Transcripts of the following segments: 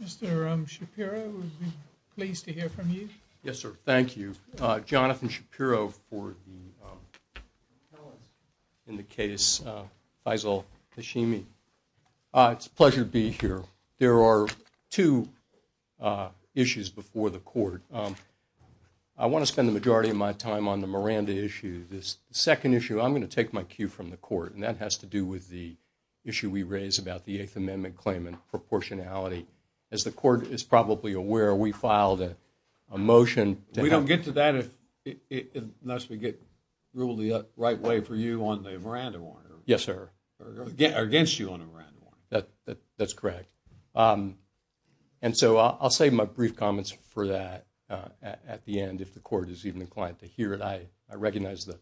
It's a pleasure to be here. There are two issues before the court. I want to spend the majority of my time on the Miranda issue. The second issue, I'm going to take my cue from the court, and that has to do with the issue we raised about the Eighth Amendment claim and proportionality. As the court is probably aware, we filed a motion to have – We don't get to that unless we get ruled the right way for you on the Miranda warrant. Yes, sir. Or against you on the Miranda warrant. That's correct. And so I'll save my brief comments for that at the end if the court is even inclined to hear it. I recognize the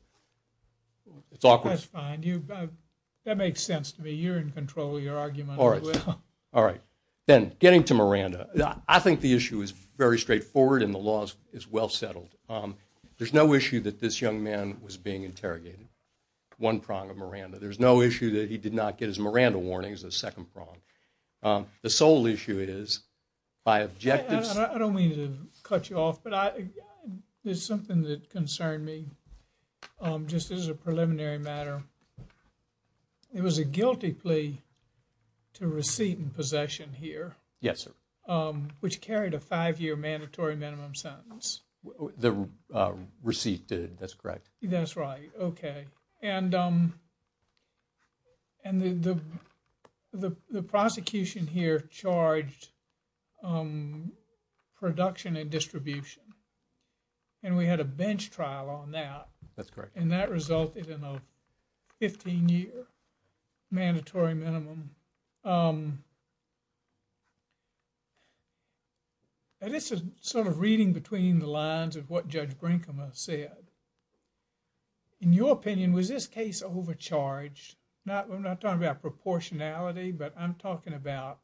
– it's awkward. That's fine. You – that makes sense to me. You're in control of your argument. All right. All right. Ben, getting to Miranda, I think the issue is very straightforward and the law is well settled. There's no issue that this young man was being interrogated, one prong of Miranda. There's no issue that he did not get his Miranda warnings, the second prong. The sole issue is, by objective – I don't mean to cut you off, but there's something that concerned me, just as a preliminary matter. It was a guilty plea to receipt and possession here. Yes, sir. Which carried a five-year mandatory minimum sentence. The receipt did. That's correct. That's right. Okay. And the prosecution here charged production and distribution. And we had a bench trial on that. That's correct. And that resulted in a 15-year mandatory minimum. And this is sort of reading between the lines of what Judge Brinkema said. In your opinion, was this case overcharged? Not – I'm not talking about proportionality, but I'm talking about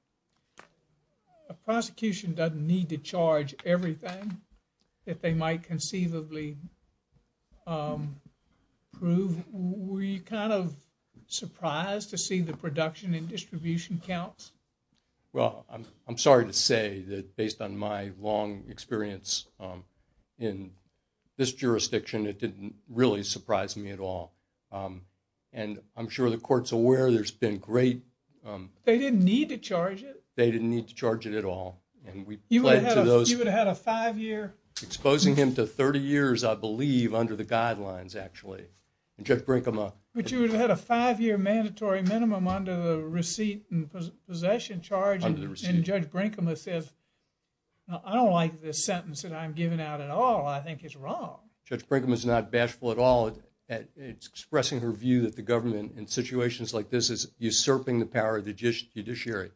a prosecution doesn't need to charge everything that they might conceivably prove. Were you kind of surprised to see the production and distribution counts? Well, I'm sorry to say that based on my long experience in this jurisdiction, it didn't really surprise me at all. And I'm sure the court's aware there's been great – They didn't need to charge it? They didn't need to charge it at all. And we pledged to those – You would have had a five-year – Exposing him to 30 years, I believe, under the guidelines, actually. And Judge Brinkema – But you would have had a five-year mandatory minimum under the receipt and possession charge. Under the receipt. And Judge Brinkema says, I don't like this sentence that I'm giving out at all. I think it's wrong. Judge Brinkema's not bashful at all. It's expressing her view that the government in situations like this is usurping the power of the judiciary.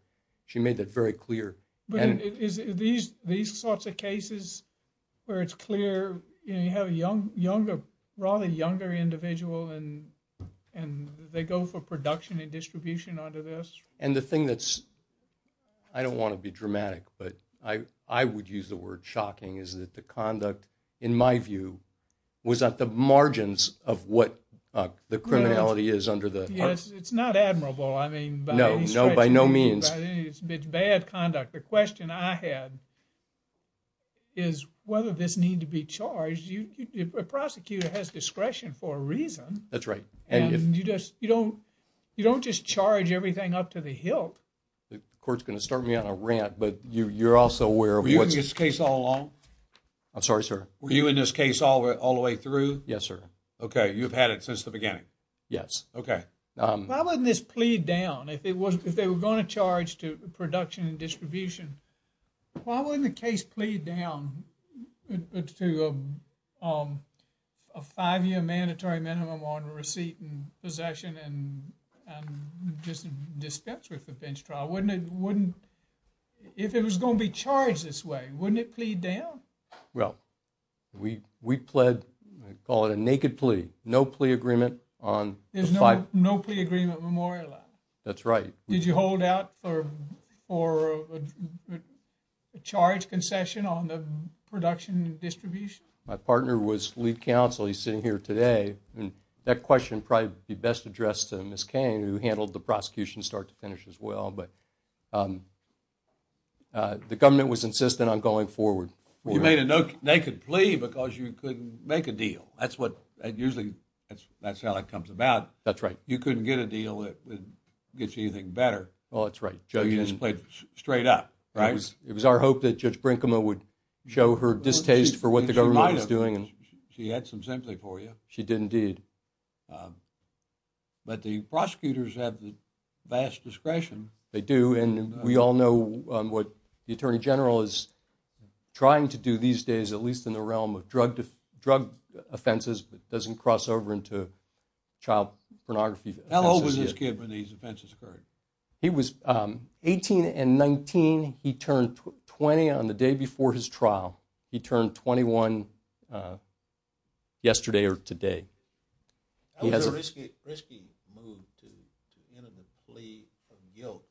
She made that very clear. But is it these sorts of cases where it's clear you have a younger, rather younger individual and they go for production and distribution under this? And the thing that's – I don't want to be dramatic, but I would use the word shocking, is that the conduct, in my view, was at the margins of what the criminality is under the – It's not admirable. No, by no means. It's bad conduct. The question I had is whether this needed to be charged. A prosecutor has discretion for a reason. That's right. And you don't just charge everything up to the hilt. The court's going to start me on a rant, but you're also aware of what's – Were you in this case all along? I'm sorry, sir? Were you in this case all the way through? Yes, sir. Okay. You've had it since the beginning? Yes. Okay. Why wouldn't this plea down if they were going to charge to production and distribution? Why wouldn't the case plea down to a five-year mandatory minimum on receipt and possession and just dispense with the bench trial? Wouldn't it – if it was going to be charged this way, wouldn't it plea down? Well, we pled – call it a naked plea. No plea agreement on the five – There's no plea agreement memorialized? That's right. Did you hold out for a charge concession on the production and distribution? My partner was lead counsel. He's sitting here today. And that question would probably be best addressed to Ms. Cain, who handled the prosecution start to finish as well. But the government was insistent on going forward. You made a naked plea because you couldn't make a deal. That's what – usually that's how it comes about. That's right. You couldn't get a deal that gets you anything better. Well, that's right. So you just pled straight up, right? It was our hope that Judge Brinkema would show her distaste for what the government was doing. She had some sympathy for you. She did indeed. But the prosecutors have the vast discretion. They do. And we all know what the Attorney General is trying to do these days, at least in the realm of drug offenses, but doesn't cross over into child pornography. How old was this kid when these offenses occurred? He was 18 and 19. He turned 20 on the day before his trial. He turned 21 yesterday or today. That was a risky move to end a plea of guilt.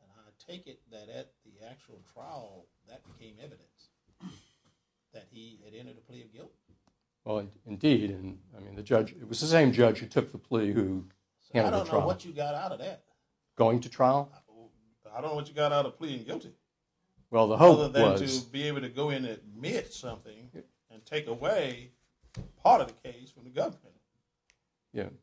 And I take it that at the actual trial, that became evidence that he had entered a plea of guilt? Indeed. It was the same judge who took the plea who handed the trial. I don't know what you got out of that. Going to trial? I don't know what you got out of pleading guilty. Well, the hope was – Other than to be able to go in and admit something and take away part of the case from the government.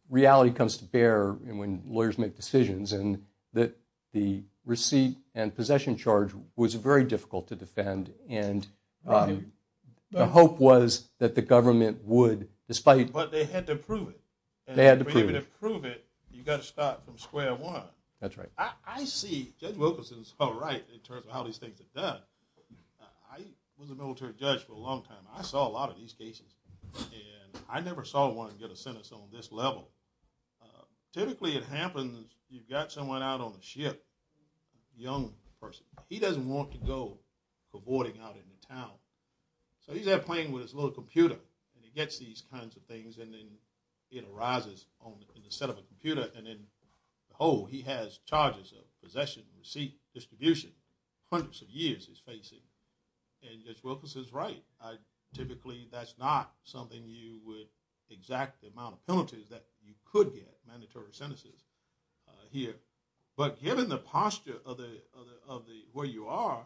Reality comes to bear when lawyers make decisions. And the receipt and possession charge was very difficult to defend. And the hope was that the government would, despite – But they had to prove it. They had to prove it. And to be able to prove it, you've got to start from square one. That's right. I see Judge Wilkinson is all right in terms of how these things are done. I was a military judge for a long time. I saw a lot of these cases. And I never saw one get a sentence on this level. Typically, it happens you've got someone out on the ship, a young person. He doesn't want to go for boarding out into town. So he's out playing with his little computer. And he gets these kinds of things and then it arises in the set of a computer. And then, oh, he has charges of possession, receipt, distribution, hundreds of years he's facing. And Judge Wilkinson is right. Typically, that's not something you would exact the amount of penalties that you could get, mandatory sentences, here. But given the posture of where you are,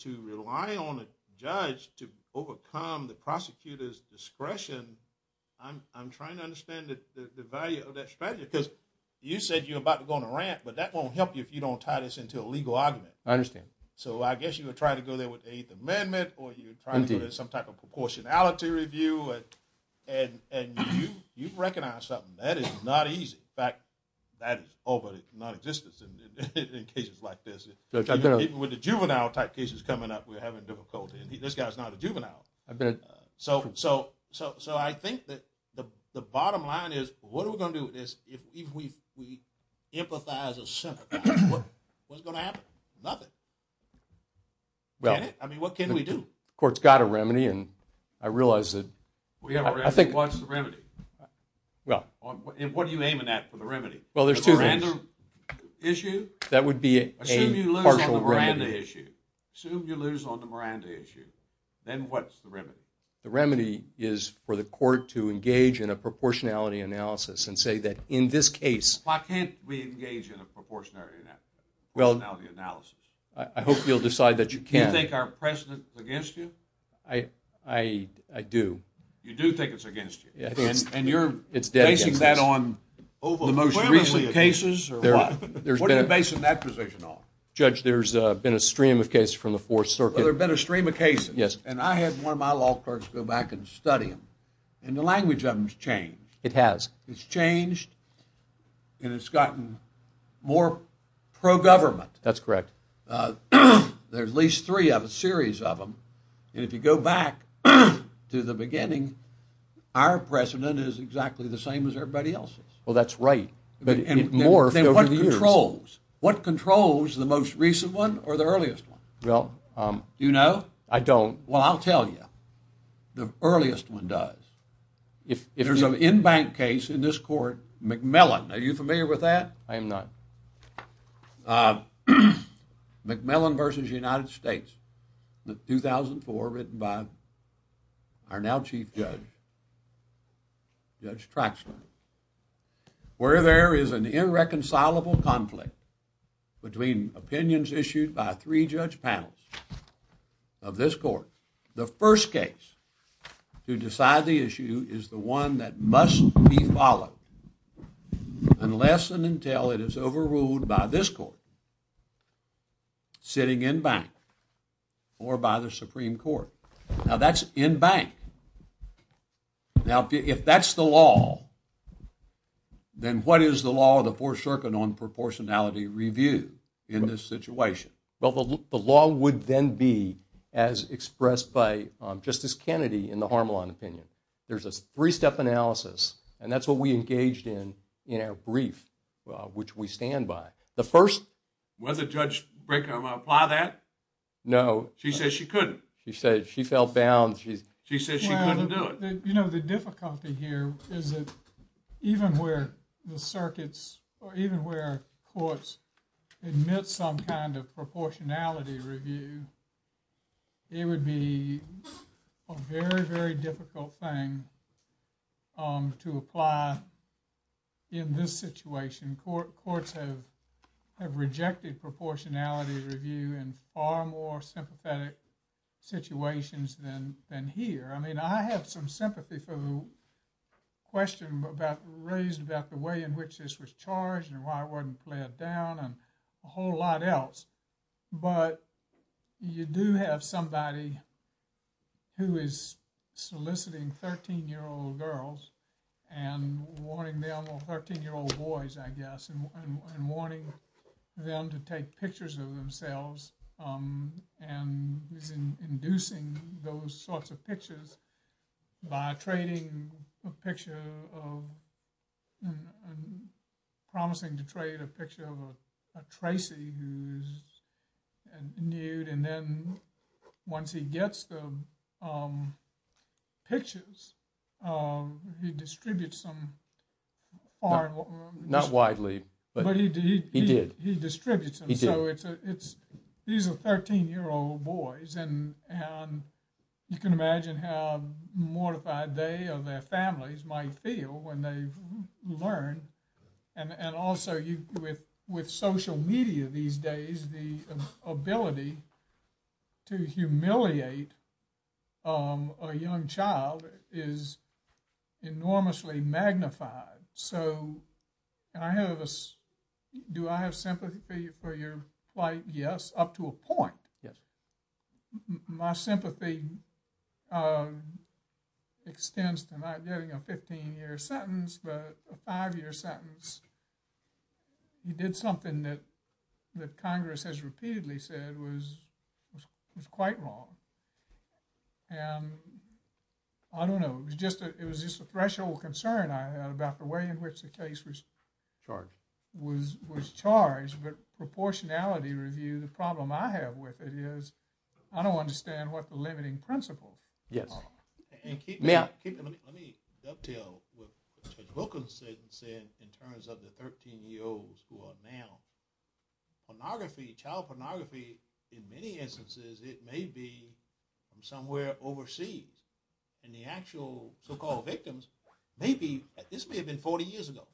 to rely on a judge to overcome the prosecutor's discretion, I'm trying to understand the value of that strategy. Because you said you're about to go on a rant, but that won't help you if you don't tie this into a legal argument. I understand. So I guess you would try to go there with the Eighth Amendment or you would try to do some type of proportionality review. And you recognize something. That is not easy. In fact, that is already non-existent in cases like this. Even with the juvenile type cases coming up, we're having difficulty. This guy is not a juvenile. So I think that the bottom line is, what are we going to do with this if we empathize or sympathize? What's going to happen? Nothing. I mean, what can we do? The Court's got a remedy, and I realize that I think... We have a remedy. What's the remedy? Well... And what are you aiming at for the remedy? Well, there's two things. The Miranda issue? That would be a partial remedy. Assume you lose on the Miranda issue. Assume you lose on the Miranda issue. Then what's the remedy? The remedy is for the Court to engage in a proportionality analysis and say that in this case... Why can't we engage in a proportionality analysis? I hope you'll decide that you can. Do you think our precedent is against you? I do. You do think it's against you? And you're basing that on the most recent cases, or what? What are you basing that position on? Judge, there's been a stream of cases from the Fourth Circuit. Well, there's been a stream of cases. And I had one of my law clerks go back and study them. And the language of them has changed. It has. It's changed, and it's gotten more pro-government. That's correct. There's at least three of a series of them. And if you go back to the beginning, our precedent is exactly the same as everybody else's. Well, that's right. It morphed over the years. What controls the most recent one or the earliest one? Well... Do you know? I don't. Well, I'll tell you. The earliest one does. If there's an in-bank case in this Court, McMillan, are you familiar with that? I am not. McMillan v. United States, 2004, written by our now Chief Judge, Judge Traxler. Where there is an irreconcilable conflict between opinions issued by three judge panels of this Court, the first case to decide the issue is the one that must be followed unless and until it is overruled by this Court, sitting in-bank, or by the Supreme Court. Now, that's in-bank. Now, if that's the law, then what is the law of the Fourth Circuit on proportionality review in this situation? Well, the law would then be, as expressed by Justice Kennedy in the Harmelin opinion, there's a three-step analysis, and that's what we engaged in in our brief, which we stand by. The first... Was it Judge Braycom to apply that? No. She said she couldn't. She said she felt bound. She said she couldn't do it. You know, the difficulty here is that even where the circuits, or even where courts, admit some kind of proportionality review, it would be a very, very difficult thing to apply in this situation. Courts have rejected proportionality review in far more sympathetic situations than here. I mean, I have some sympathy for the question raised about the way in which this was charged and why it wasn't played down, and a whole lot else, but you do have somebody who is soliciting 13-year-old girls and wanting them... or 13-year-old boys, I guess, and wanting them to take pictures of themselves and is inducing those sorts of pictures by trading a picture of... promising to trade a picture of a Tracy who's nude, and then once he gets the pictures, he distributes them far... Not widely, but he did. He distributes them. He did. These are 13-year-old boys, and you can imagine how mortified they or their families might feel when they've learned, and also with social media these days, the ability to humiliate a young child is enormously magnified. So, I have a... Do I have sympathy for your plight? Yes, up to a point. My sympathy extends to not getting a 15-year sentence, but a 5-year sentence. You did something that Congress has repeatedly said was quite wrong, and I don't know. It was just a threshold concern I had about the way in which the case was... Charged.... was charged, but proportionality review, the problem I have with it is I don't understand what the limiting principle is. Yes. May I... Let me dovetail what Judge Wilkins said in terms of the 13-year-olds who are now... Pornography, child pornography, in many instances, it may be from somewhere overseas, and the actual so-called victims may be... This may have been 40 years ago,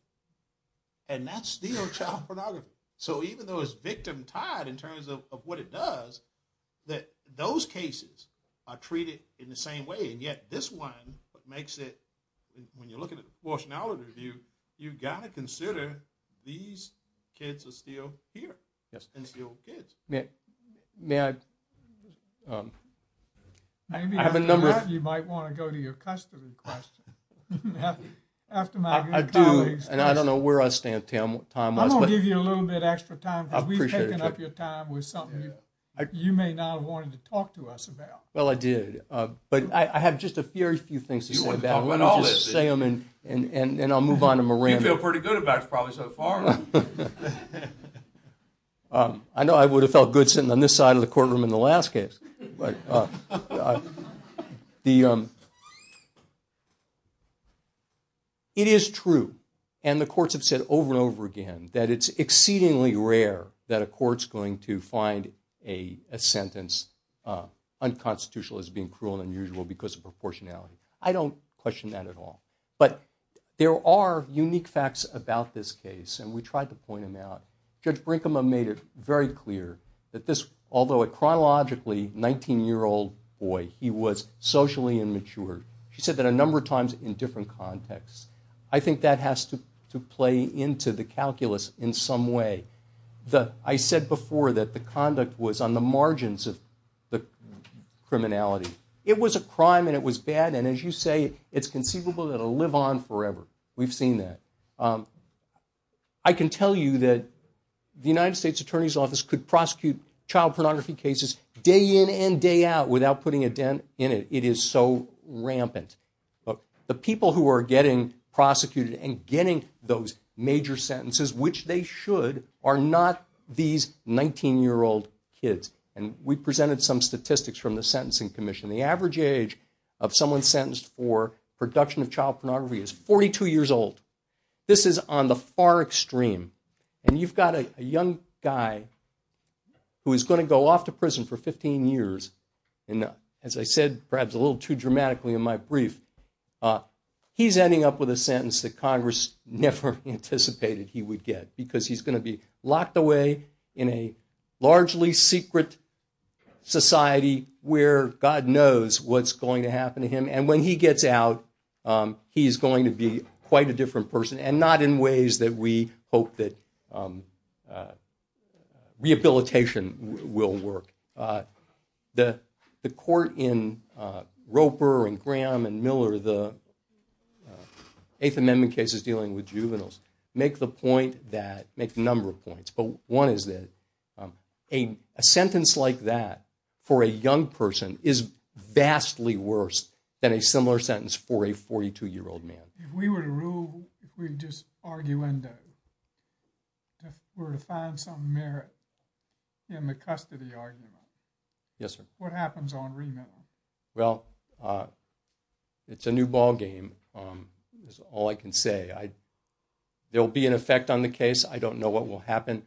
and that's still child pornography. So, even though it's victim-tied in terms of what it does, and yet this one makes it... When you're looking at proportionality review, you've got to consider these kids are still here. Yes. And still kids. May I... I have a number of... I do, and I don't know where our time was, but... I'm going to give you a little bit of extra time, because we've taken up your time with something you may not have wanted to talk to us about. Well, I did, but I have just a very few things to say about it. I'm going to just say them, and I'll move on to Miranda. You feel pretty good about it, probably, so far. I know I would have felt good sitting on this side of the courtroom in the last case. It is true, and the courts have said over and over again, that it's exceedingly rare that a court's going to find a sentence unconstitutional as being cruel and unusual because of proportionality. I don't question that at all. But there are unique facts about this case, and we tried to point them out. Judge Brinkman made it very clear that this, although chronologically, 19-year-old boy, he was socially immature. She said that a number of times in different contexts. I think that has to play into the calculus in some way. I said before that the conduct was on the margins of the criminality. It was a crime, and it was bad, and as you say, it's conceivable that it'll live on forever. We've seen that. I can tell you that the United States Attorney's Office could prosecute child pornography cases day in and day out without putting a dent in it. It is so rampant. The people who are getting prosecuted and getting those major sentences, which they should, are not these 19-year-old kids. And we presented some statistics from the Sentencing Commission. The average age of someone sentenced for production of child pornography is 42 years old. This is on the far extreme. And you've got a young guy who is going to go off to prison for 15 years. And as I said, perhaps a little too dramatically in my brief, he's ending up with a sentence that Congress never anticipated he would get because he's going to be locked away in a largely secret society where God knows what's going to happen to him. And when he gets out, he's going to be quite a different person and not in ways that we hope that rehabilitation will work. The court in Roper and Graham and Miller, the Eighth Amendment cases dealing with juveniles, make the number of points. But one is that a sentence like that for a young person is vastly worse than a similar sentence for a 42-year-old man. If we were to rule, if we just argue into it, if we were to find some merit in the custody argument, what happens on remand? Well, it's a new ballgame, is all I can say. There will be an effect on the case. I don't know what will happen.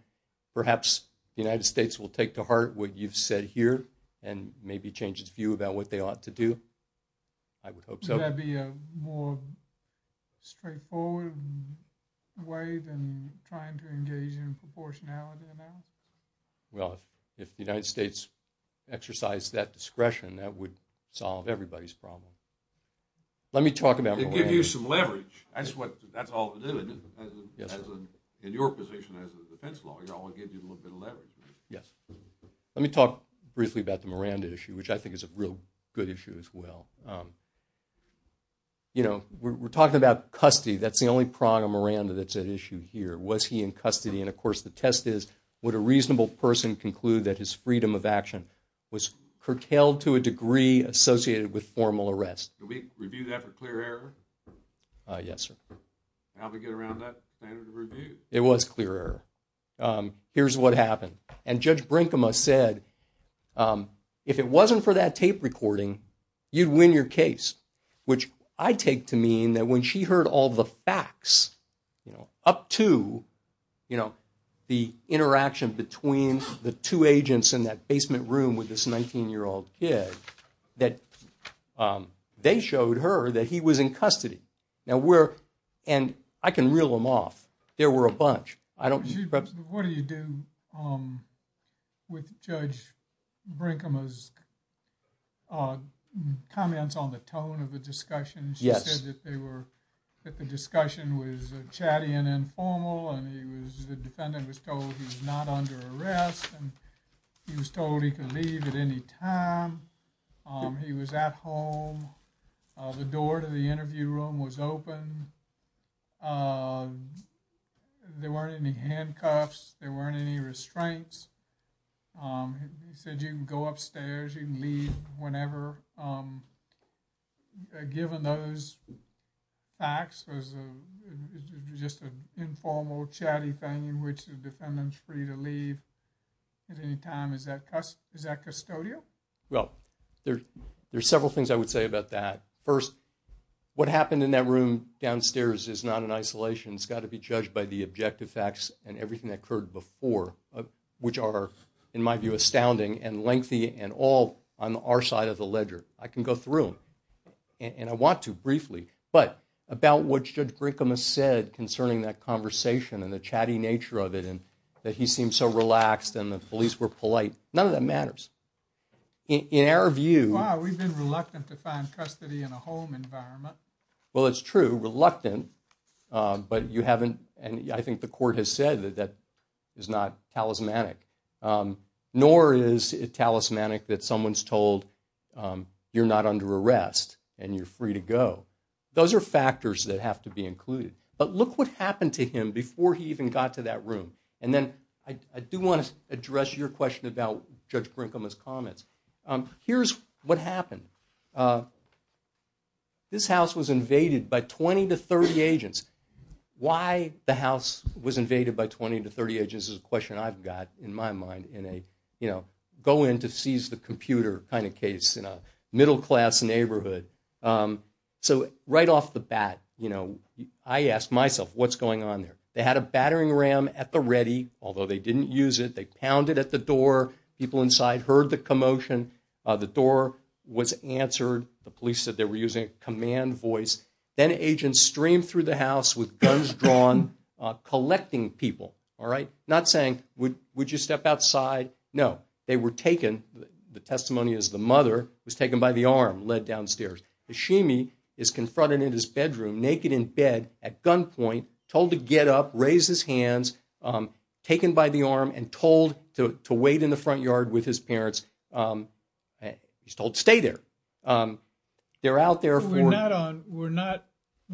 Perhaps the United States will take to heart what you've said here and maybe change its view about what they ought to do. I would hope so. Would that be a more straightforward way than trying to engage in a proportionality analysis? Well, if the United States exercised that discretion, that would solve everybody's problem. Let me talk about... To give you some leverage, that's all to do. In your position as a defense lawyer, I want to give you a little bit of leverage. Yes. Let me talk briefly about the Miranda issue, which I think is a real good issue as well. You know, we're talking about custody. That's the only prong of Miranda that's at issue here. Was he in custody? And, of course, the test is, would a reasonable person conclude that his freedom of action was curtailed to a degree associated with formal arrest? Do we review that for clear error? Yes, sir. How'd we get around that standard of review? It was clear error. Here's what happened. And Judge Brinkema said, if it wasn't for that tape recording, you'd win your case, which I take to mean that when she heard all the facts, you know, up to, you know, the interaction between the two agents in that basement room with this 19-year-old kid, that they showed her that he was in custody. Now, we're, and I can reel them off. There were a bunch. What do you do with Judge Brinkema's comments on the tone of the discussion? She said that the discussion was chatty and informal and the defendant was told he's not under arrest and he was told he could leave at any time. He was at home. The door to the interview room was open. There weren't any handcuffs. There weren't any restraints. He said you can go upstairs. You can leave whenever. Given those facts, it was just an informal, chatty thing in which the defendant's free to leave at any time. Is that custodial? Well, there's several things I would say about that. First, what happened in that room downstairs is not in isolation. It's got to be judged by the objective facts and everything that occurred before, which are, in my view, astounding and lengthy and all on our side of the ledger. I can go through them, and I want to briefly, but about what Judge Brinkema said concerning that conversation and the chatty nature of it and that he seemed so relaxed and the police were polite, none of that matters. In our view... Wow, we've been reluctant to find custody in a home environment. Well, it's true, reluctant, but you haven't, and I think the court has said that that is not talismanic, nor is it talismanic that someone's told you're not under arrest and you're free to go. Those are factors that have to be included. But look what happened to him before he even got to that room. And then I do want to address your question about Judge Brinkema's comments. Here's what happened. This house was invaded by 20 to 30 agents. Why the house was invaded by 20 to 30 agents is a question I've got in my mind in a go-in-to-seize-the-computer kind of case in a middle-class neighborhood. So right off the bat, I ask myself, what's going on there? They had a battering ram at the ready, although they didn't use it. They pounded at the door. People inside heard the commotion. The door was answered. The police said they were using a command voice. Then agents streamed through the house with guns drawn, collecting people, all right? Not saying, would you step outside? No. They were taken. The testimony is the mother was taken by the arm, led downstairs. Hashimi is confronted in his bedroom, naked in bed at gunpoint, told to get up, raise his hands, taken by the arm, and told to wait in the front yard with his parents. He's told, stay there. They're out there. We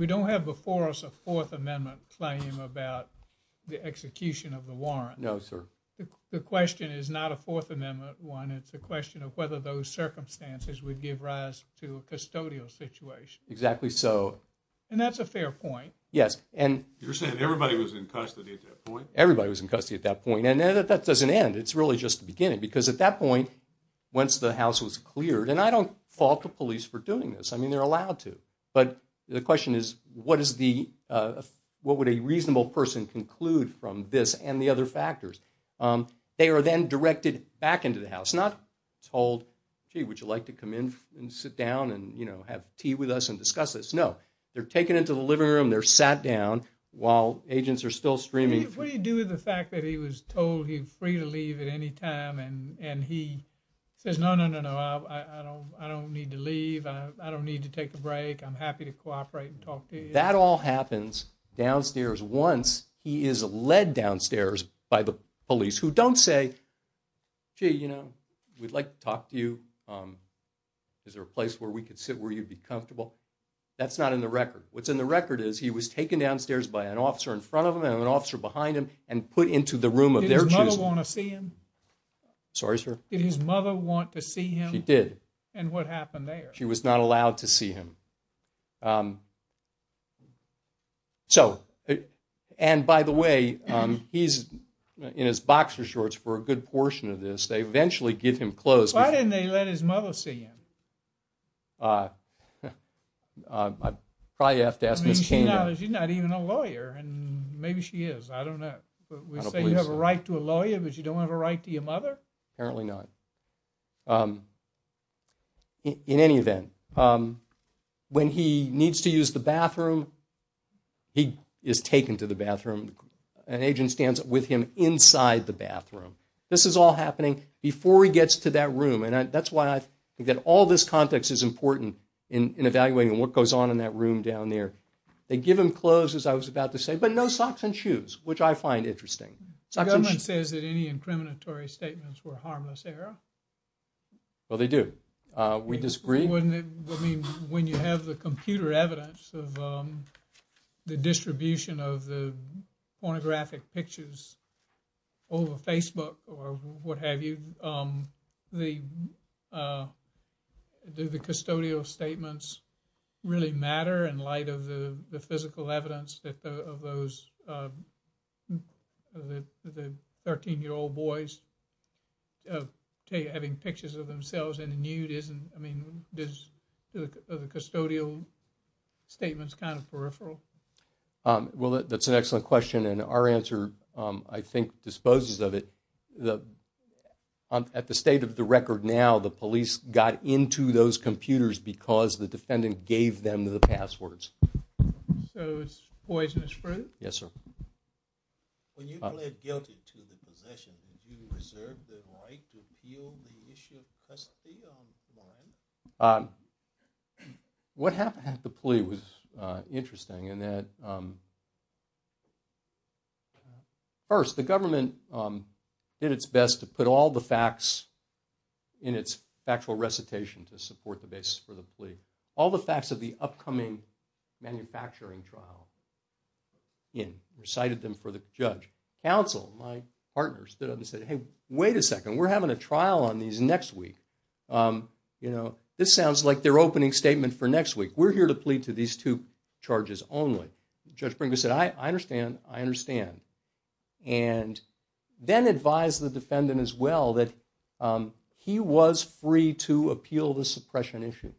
don't have before us a Fourth Amendment claim about the execution of the warrant. No, sir. The question is not a Fourth Amendment one. It's a question of whether those circumstances would give rise to a custodial situation. Exactly so. And that's a fair point. Yes. You're saying everybody was in custody at that point? Everybody was in custody at that point. And that doesn't end. It's really just the beginning. Because at that point, once the house was cleared, and I don't fault the police for doing this. I mean, they're allowed to. But the question is, what would a reasonable person conclude from this and the other factors? They are then directed back into the house. Not told, gee, would you like to come in and sit down and have tea with us and discuss this? No, they're taken into the living room. They're sat down while agents are still streaming. What do you do with the fact that he was told he was free to leave at any time? And he says, no, no, no, no, I don't need to leave. I don't need to take a break. I'm happy to cooperate and talk to you. That all happens downstairs. Once he is led downstairs by the police, who don't say, gee, you know, we'd like to talk to you. Is there a place where we could sit where you'd be comfortable? That's not in the record. What's in the record is he was taken downstairs by an officer in front of him and an officer behind him and put into the room of their choosing. Did his mother want to see him? Sorry, sir? Did his mother want to see him? She did. And what happened there? She was not allowed to see him. So, and by the way, he's in his boxer shorts for a good portion of this. They eventually give him clothes. Why didn't they let his mother see him? I probably have to ask Ms. Candy. She's not even a lawyer and maybe she is. I don't know. We say you have a right to a lawyer, but you don't have a right to your mother? Apparently not. In any event, when he needs to use the bathroom, he is taken to the bathroom. An agent stands with him inside the bathroom. This is all happening. Before he gets to that room. And that's why I think that all this context is important in evaluating what goes on in that room down there. They give him clothes, as I was about to say, but no socks and shoes, which I find interesting. The government says that any incriminatory statements were harmless, Errol. Well, they do. We disagree. Wouldn't it, I mean, when you have the computer evidence of the distribution of the pornographic pictures over Facebook or what have you, do the custodial statements really matter in light of the physical evidence of those 13-year-old boys having pictures of themselves in the nude? I mean, are the custodial statements kind of peripheral? Well, that's an excellent question. And our answer, I think, disposes of it. At the state of the record now, the police got into those computers because the defendant gave them the passwords. So it's poisonous fruit? Yes, sir. When you pled guilty to the possession, did you reserve the right to appeal the issue of custody? What happened at the plea was interesting in that, first, the government did its best to put all the facts in its factual recitation to support the basis for the plea. All the facts of the upcoming manufacturing trial in, recited them for the judge. Counsel, my partner, stood up and said, hey, wait a second, we're having a trial on these next week. You know, this sounds like their opening statement for next week. We're here to plead to these two charges only. Judge Brinkman said, I understand, I understand. And then advised the defendant as well that he was free to appeal the suppression issue.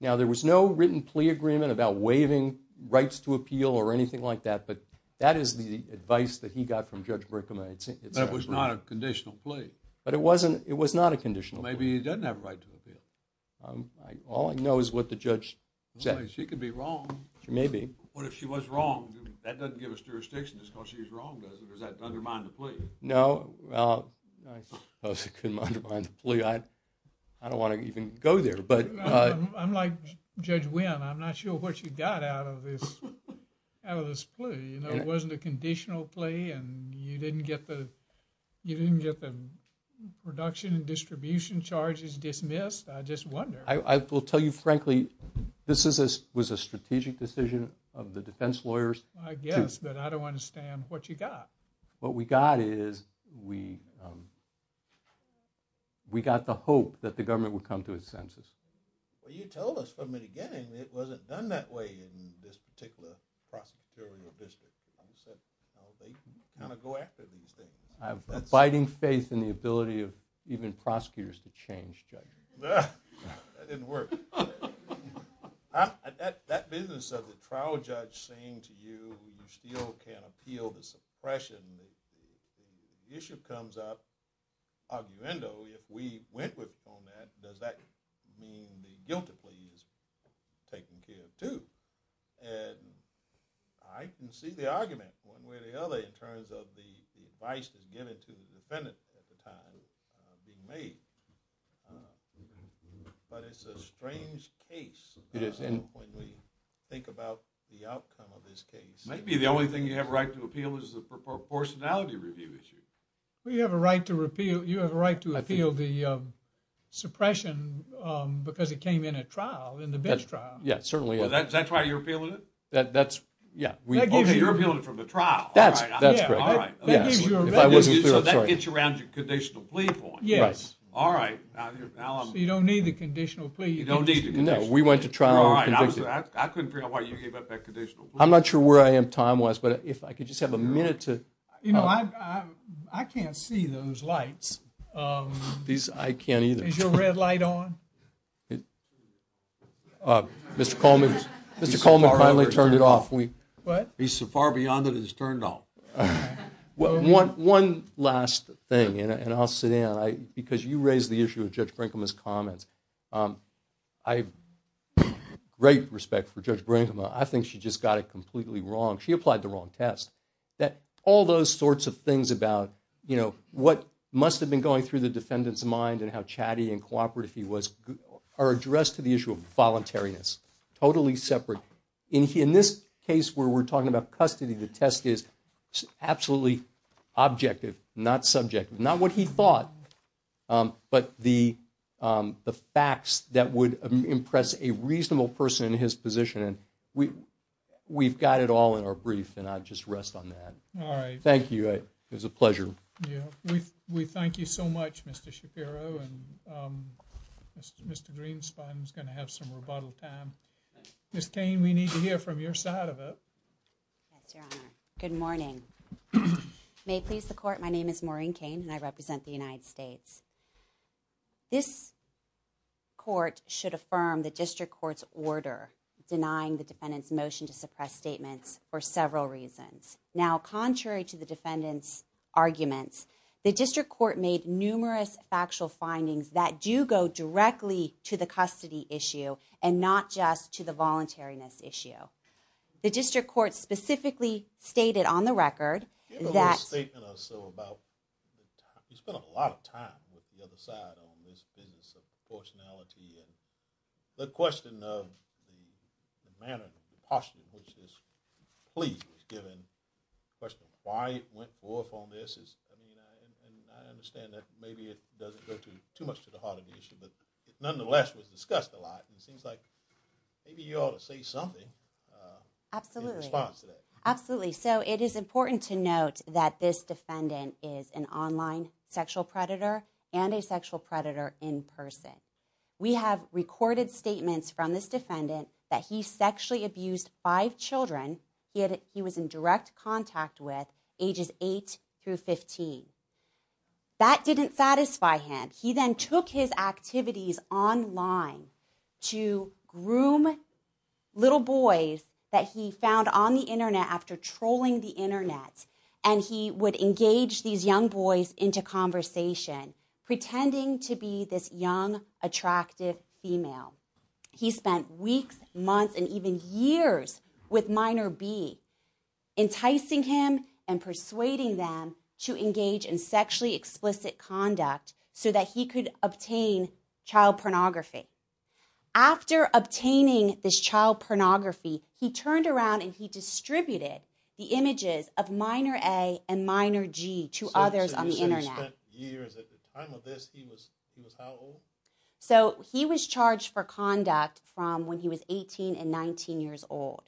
Now, there was no written plea agreement about waiving rights to appeal or anything like that, but that is the advice that he got from Judge Brinkman. But it was not a conditional plea? But it was not a conditional plea. Well, maybe he doesn't have a right to appeal. All I know is what the judge said. She could be wrong. She may be. What if she was wrong? That doesn't give us jurisdiction, just because she's wrong, does it? Or does that undermine the plea? No. Well, I suppose it could undermine the plea. I don't want to even go there. I'm like Judge Wynn. I'm not sure what you got out of this plea. You know, it wasn't a conditional plea, and you didn't get the production and distribution charges dismissed. I just wonder. I will tell you frankly, this was a strategic decision of the defense lawyers. I guess, but I don't understand what you got. What we got is we got the hope that the government would come to a census. Well, you told us from the beginning it wasn't done that way in this particular prosecutorial district. They kind of go after these things. I have abiding faith in the ability of even prosecutors to change, Judge. That didn't work. That business of the trial judge saying to you you still can't appeal the suppression, the issue comes up, arguendo, if we went with format, does that mean the guilty plea is taken care of too? I can see the argument one way or the other in terms of the advice given to the defendant at the time being made. But it's a strange case when we think about the outcome of this case. Maybe the only thing you have a right to appeal is the proportionality review issue. You have a right to appeal the suppression because it came in at trial, in the bench trial. Yes, certainly. Is that why you're appealing it? Yes. So you're appealing it from the trial. That's correct. So that gets you around your conditional plea point. Yes. All right. So you don't need the conditional plea. No, we went to trial and were convicted. I couldn't figure out why you gave up that conditional plea. I'm not sure where I am time-wise, but if I could just have a minute to... I can't see those lights. I can't either. Is your red light on? Mr. Coleman finally turned it off. What? He's so far beyond it, it's turned off. One last thing, and I'll sit down, because you raised the issue of Judge Brinkman's comments. I have great respect for Judge Brinkman. I think she just got it completely wrong. She applied the wrong test. All those sorts of things about, you know, what must have been going through the defendant's mind and how chatty and cooperative he was are addressed to the issue of voluntariness. Totally separate. In this case where we're talking about custody, the test is absolutely objective, not subjective. Not what he thought, but the facts that would impress a reasonable person in his position. And we've got it all in our brief, and I'll just rest on that. All right. Thank you. It was a pleasure. Thank you. We thank you so much, Mr. Shapiro, and Mr. Greenspan's going to have some rebuttal time. Ms. Cain, we need to hear from your side of it. Yes, Your Honor. Good morning. May it please the Court, my name is Maureen Cain, and I represent the United States. This Court should affirm the District Court's order denying the defendant's motion to suppress statements for several reasons. Now, contrary to the defendant's arguments, the District Court made numerous factual findings that do go directly to the custody issue and not just to the voluntariness issue. The District Court specifically stated on the record that- Give a little statement or so about- you spent a lot of time with the other side on this business of proportionality and the question of the manner of proportion in which this plea was given, the question of why it went forth on this is- and I understand that maybe it doesn't go too much to the heart of the issue, but it nonetheless was discussed a lot, and it seems like maybe you ought to say something in response to that. Absolutely. So it is important to note that this defendant is an online sexual predator and a sexual predator in person. We have recorded statements from this defendant that he sexually abused five children he was in direct contact with ages 8 through 15. That didn't satisfy him. He then took his activities online to groom little boys that he found on the Internet after trolling the Internet, and he would engage these young boys into conversation pretending to be this young, attractive female. He spent weeks, months, and even years with minor B, enticing him and persuading them to engage in sexually explicit conduct so that he could obtain child pornography. After obtaining this child pornography, he turned around and he distributed the images of minor A and minor G to others on the Internet. He spent years. At the time of this, he was how old? So he was charged for conduct from when he was 18 and 19 years old.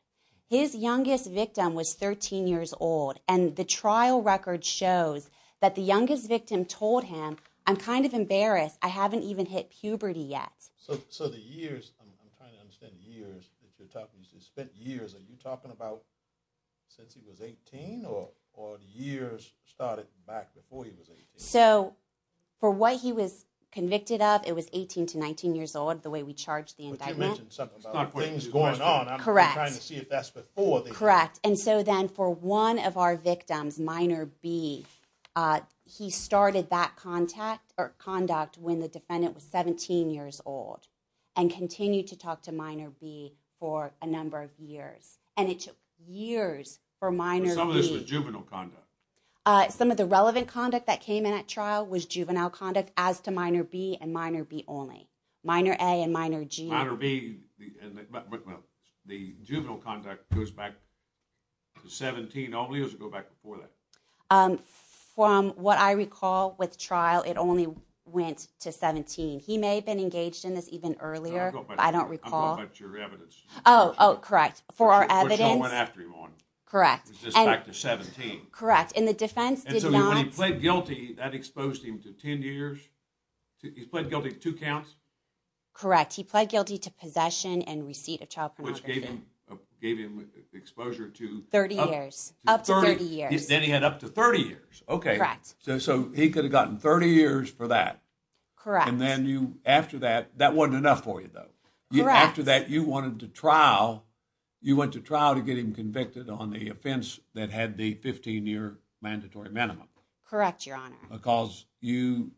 His youngest victim was 13 years old, and the trial record shows that the youngest victim told him, I'm kind of embarrassed. I haven't even hit puberty yet. So the years, I'm trying to understand years. He spent years. Are you talking about since he was 18 or years started back before he was 18? So for what he was convicted of, it was 18 to 19 years old, the way we charged the indictment. But you mentioned something about things going on. Correct. I'm trying to see if that's before. Correct, and so then for one of our victims, minor B, he started that contact or conduct when the defendant was 17 years old and continued to talk to minor B for a number of years, and it took years for minor B. Some of this was juvenile conduct. Some of the relevant conduct that came in at trial was juvenile conduct as to minor B and minor B only. Minor A and minor G. Minor B, the juvenile conduct goes back to 17 only or does it go back before that? From what I recall with trial, it only went to 17. He may have been engaged in this even earlier, but I don't recall. I'm talking about your evidence. Oh, correct. For our evidence. Correct. It goes back to 17. Correct, and the defense did not. And so when he pled guilty, that exposed him to 10 years? He pled guilty to two counts? Correct. He pled guilty to possession and receipt of child pornography. Which gave him exposure to? 30 years. Up to 30 years. Then he had up to 30 years. Okay. Correct. So he could have gotten 30 years for that. Correct. And then after that, that wasn't enough for you, though. Correct. And then after that, you wanted to trial, you went to trial to get him convicted on the offense that had the 15-year mandatory minimum. Correct, Your Honor. Because you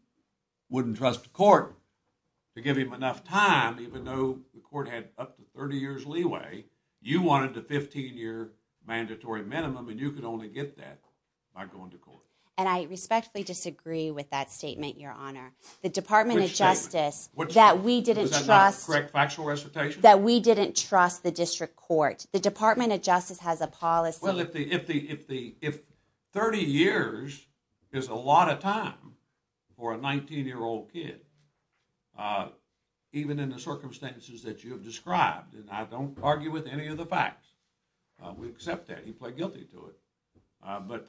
wouldn't trust the court to give him enough time, even though the court had up to 30 years leeway. You wanted the 15-year mandatory minimum, and you could only get that by going to court. And I respectfully disagree with that statement, Your Honor. Which statement? The Department of Justice that we didn't trust. Correct. Factual recitation? That we didn't trust the district court. The Department of Justice has a policy. Well, if 30 years is a lot of time for a 19-year-old kid, even in the circumstances that you have described, and I don't argue with any of the facts, we accept that. He pled guilty to it. But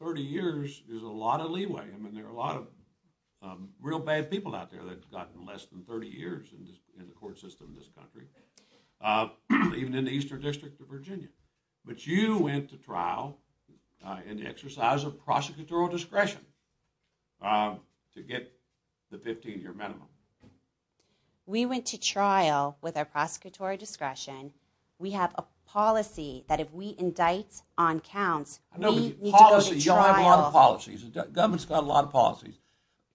30 years is a lot of leeway. I mean, there are a lot of real bad people out there that have gotten less than 30 years in the court system in this country, even in the Eastern District of Virginia. But you went to trial and exercised a prosecutorial discretion to get the 15-year minimum. We went to trial with our prosecutorial discretion. We have a policy that if we indict on counts, we need to go to trial. You all have a lot of policies. The government's got a lot of policies.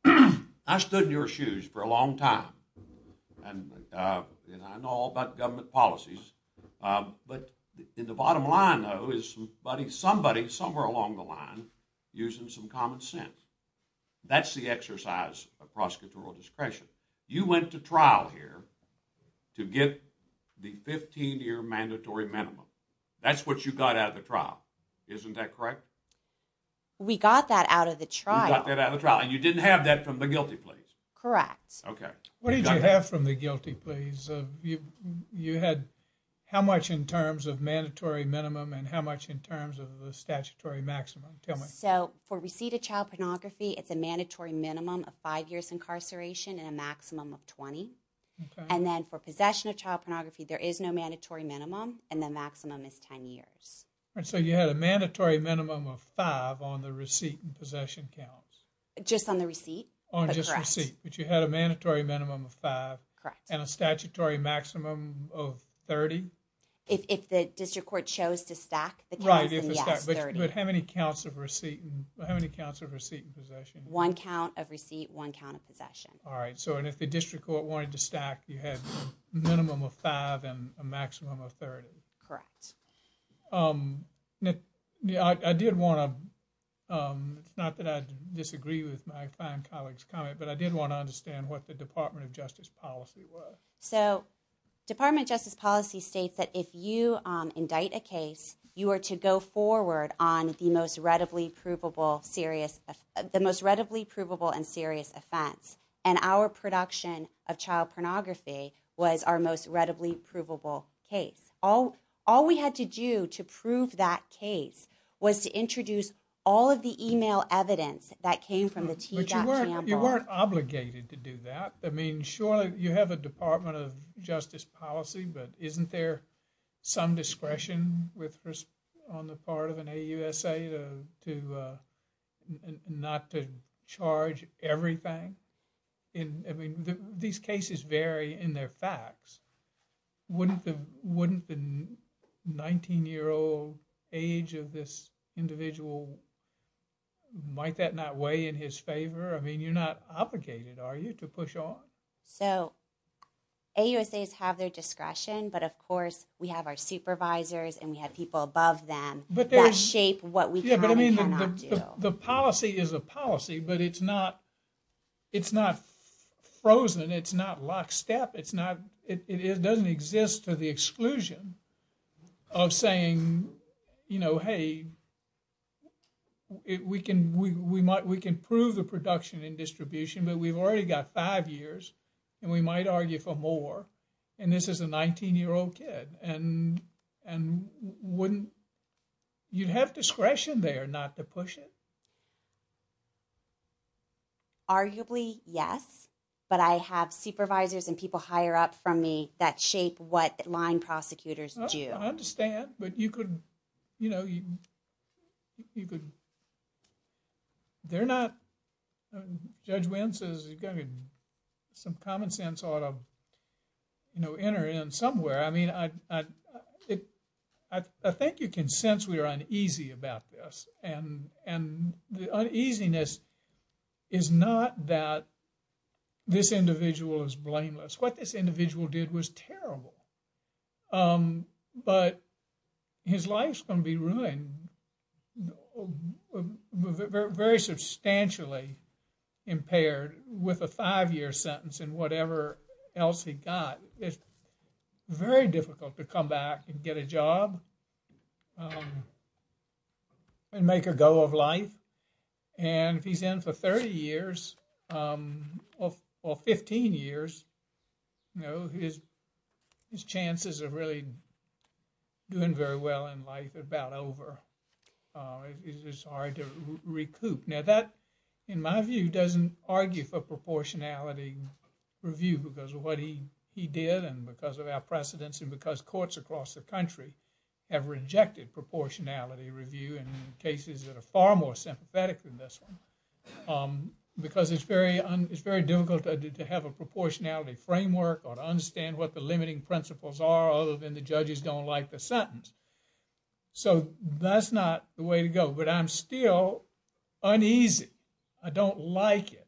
I stood in your shoes for a long time, and I know all about government policies. But in the bottom line, though, is somebody, somewhere along the line, using some common sense. That's the exercise of prosecutorial discretion. You went to trial here to get the 15-year mandatory minimum. That's what you got out of the trial. Isn't that correct? We got that out of the trial. You got that out of the trial. You didn't have that from the guilty pleas. Correct. What did you have from the guilty pleas? You had how much in terms of mandatory minimum and how much in terms of the statutory maximum? For receipt of child pornography, it's a mandatory minimum of 5 years incarceration and a maximum of 20. And then for possession of child pornography, there is no mandatory minimum, and the maximum is 10 years. So you had a mandatory minimum of 5 on the receipt and possession counts. Just on the receipt. On just receipt. But you had a mandatory minimum of 5 and a statutory maximum of 30. If the district court chose to stack the counts, then yes, 30. But how many counts of receipt and possession? One count of receipt, one count of possession. All right. So if the district court wanted to stack, you had a minimum of 5 and a maximum of 30. Correct. Nick, I did want to, it's not that I disagree with my fine colleague's comment, but I did want to understand what the Department of Justice policy was. So Department of Justice policy states that if you indict a case, you are to go forward on the most readily provable serious, the most readily provable and serious offense. And our production of child pornography was our most readily provable case. All we had to do to prove that case was to introduce all of the email evidence that came from the T.Campbell. But you weren't obligated to do that. I mean, surely you have a Department of Justice policy, but isn't there some discretion on the part of an AUSA to not to charge everything? I mean, these cases vary in their facts. Wouldn't the 19-year-old age of this individual, might that not weigh in his favor? I mean, you're not obligated, are you, to push on? So AUSAs have their discretion, but of course we have our supervisors and we have people above them that shape what we can and cannot do. The policy is a policy, but it's not frozen. It's not lockstep. It doesn't exist to the exclusion of saying, you know, hey, we can prove the production and distribution, but we've already got five years and we might argue for more. And this is a 19-year-old kid. And you'd have discretion there not to push it? Arguably, yes. But I have supervisors and people higher up from me that shape what line prosecutors do. I understand, but you could, you know, you could, they're not, Judge Wynn says some common sense ought to, you know, enter in somewhere. I mean, I think you can sense we are uneasy about this. And the uneasiness is not that this individual is blameless. What this individual did was terrible, but his life's going to be ruined, very substantially impaired with a five-year sentence and whatever else he got. It's very difficult to come back and get a job and make a go of life. And if he's in for 30 years or 15 years, you know, his chances of really doing very well in life are about over. It's just hard to recoup. Now that, in my view, doesn't argue for proportionality review because of what he did and because of our precedents and because courts across the country have rejected proportionality review in cases that are far more sympathetic than this one. Because it's very difficult to have a proportionality framework or to understand what the limiting principles are other than the judges don't like the sentence. So that's not the way to go. But I'm still uneasy. I don't like it,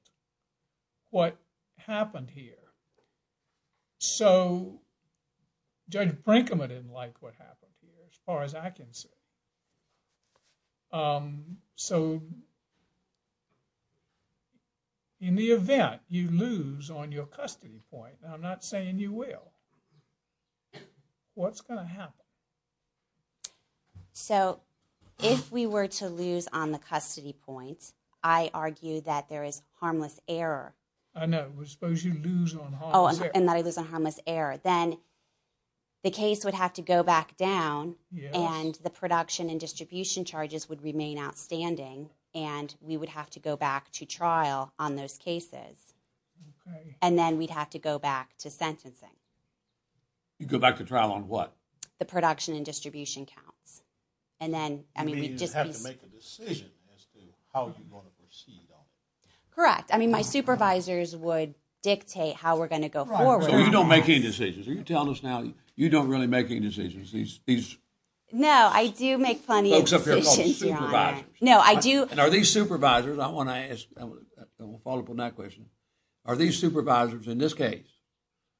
what happened here. So Judge Brinkman didn't like what happened here as far as I can see. So in the event you lose on your custody point, and I'm not saying you will, what's going to happen? So if we were to lose on the custody point, I argue that there is harmless error. I know. Suppose you lose on harmless error. Oh, and that I lose on harmless error. Then the case would have to go back down and the production and distribution charges would remain outstanding and we would have to go back to trial on those cases. Okay. And then we'd have to go back to sentencing. You'd go back to trial on what? The production and distribution counts. You'd have to make a decision as to how you're going to proceed on it. Correct. I mean, my supervisors would dictate how we're going to go forward. So you don't make any decisions. Are you telling us now you don't really make any decisions? No, I do make plenty of decisions. Folks up here are called supervisors. No, I do. And are these supervisors, I want to follow up on that question, are these supervisors in this case,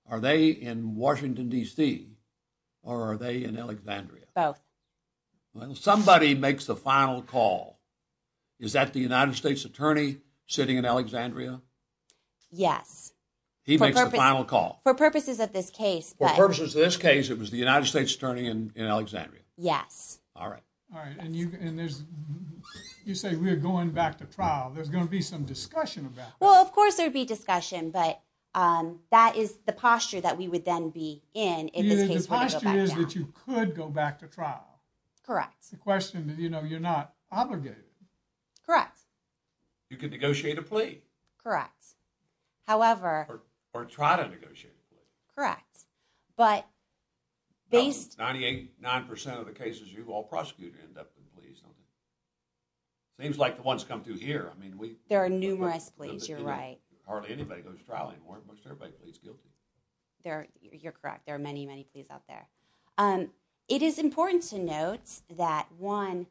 are they in Washington, D.C., or are they in Alexandria? Both. Well, somebody makes the final call. Is that the United States attorney sitting in Alexandria? Yes. He makes the final call. For purposes of this case. For purposes of this case, it was the United States attorney in Alexandria. Yes. All right. All right, and you say we're going back to trial. There's going to be some discussion about that. Well, of course there would be discussion, but that is the posture that we would then be in if this case were to go back down. The posture is that you could go back to trial. Correct. The question, you know, you're not obligated. Correct. You could negotiate a plea. Correct. However. Or try to negotiate a plea. Correct. But based. Ninety-eight, nine percent of the cases you've all prosecuted end up in pleas. Seems like the ones come through here. There are numerous pleas, you're right. Hardly anybody goes to trial anymore unless everybody pleads guilty. You're correct. There are many, many pleas out there. It is important to note that, one,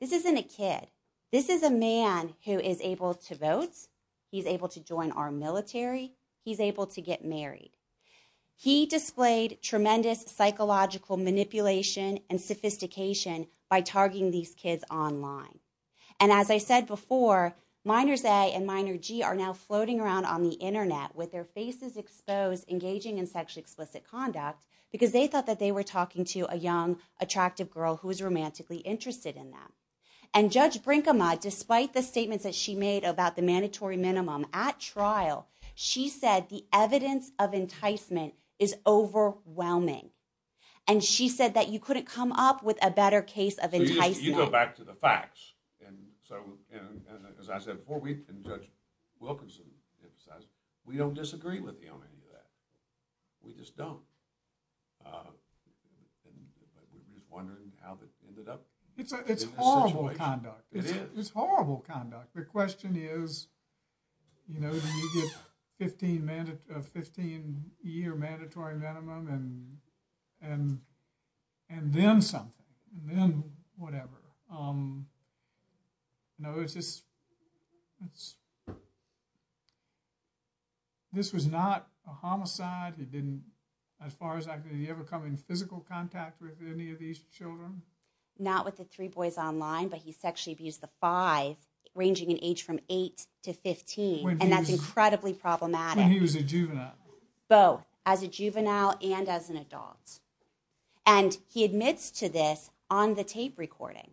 this isn't a kid. This is a man who is able to vote. He's able to join our military. He's able to get married. He displayed tremendous psychological manipulation and sophistication by targeting these kids online. And as I said before, minors A and minor G are now floating around on the Internet with their faces exposed engaging in sexually explicit conduct because they thought that they were talking to a young, attractive girl who was romantically interested in them. And Judge Brinkema, despite the statements that she made about the mandatory minimum at trial, she said the evidence of enticement is overwhelming. And she said that you couldn't come up with a better case of enticement. You go back to the facts. And so, as I said before, we, and Judge Wilkinson emphasized, we don't disagree with you on any of that. We just don't. And we're just wondering how that ended up. It's horrible conduct. It is. It's horrible conduct. The question is, you know, do you get a 15-year mandatory minimum and then something, then whatever. No, it's just, it's, this was not a homicide. He didn't, as far as I could, did he ever come in physical contact with any of these children? Not with the three boys online, but he sexually abused the five, ranging in age from 8 to 15. And that's incredibly problematic. When he was a juvenile. Both, as a juvenile and as an adult. And he admits to this on the tape recording.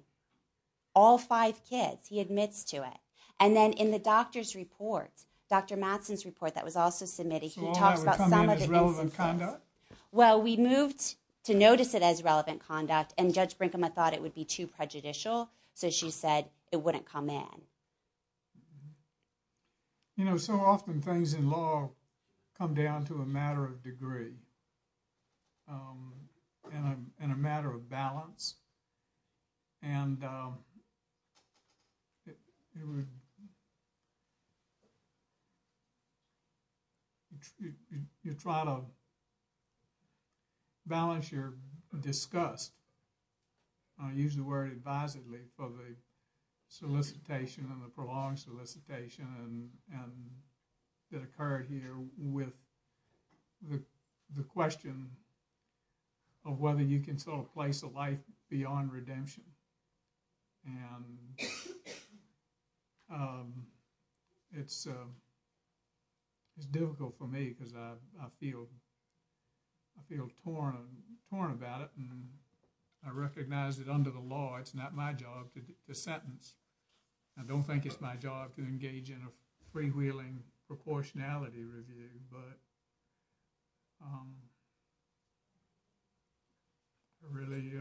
All five kids, he admits to it. And then in the doctor's report, Dr. Mattson's report that was also submitted, he talks about some of the instances. So all that would come in as relevant conduct? Well, we moved to notice it as relevant conduct, and Judge Brinkema thought it would be too prejudicial, so she said it wouldn't come in. You know, so often things in law come down to a matter of degree. And a matter of balance. And it would, you try to balance your disgust. I use the word advisedly for the solicitation and the prolonged solicitation that occurred here with the question of whether you can sort of place a life beyond redemption. And it's difficult for me because I feel torn about it. And I recognize that under the law, it's not my job to sentence. I don't think it's my job to engage in a freewheeling proportionality review, but I'm really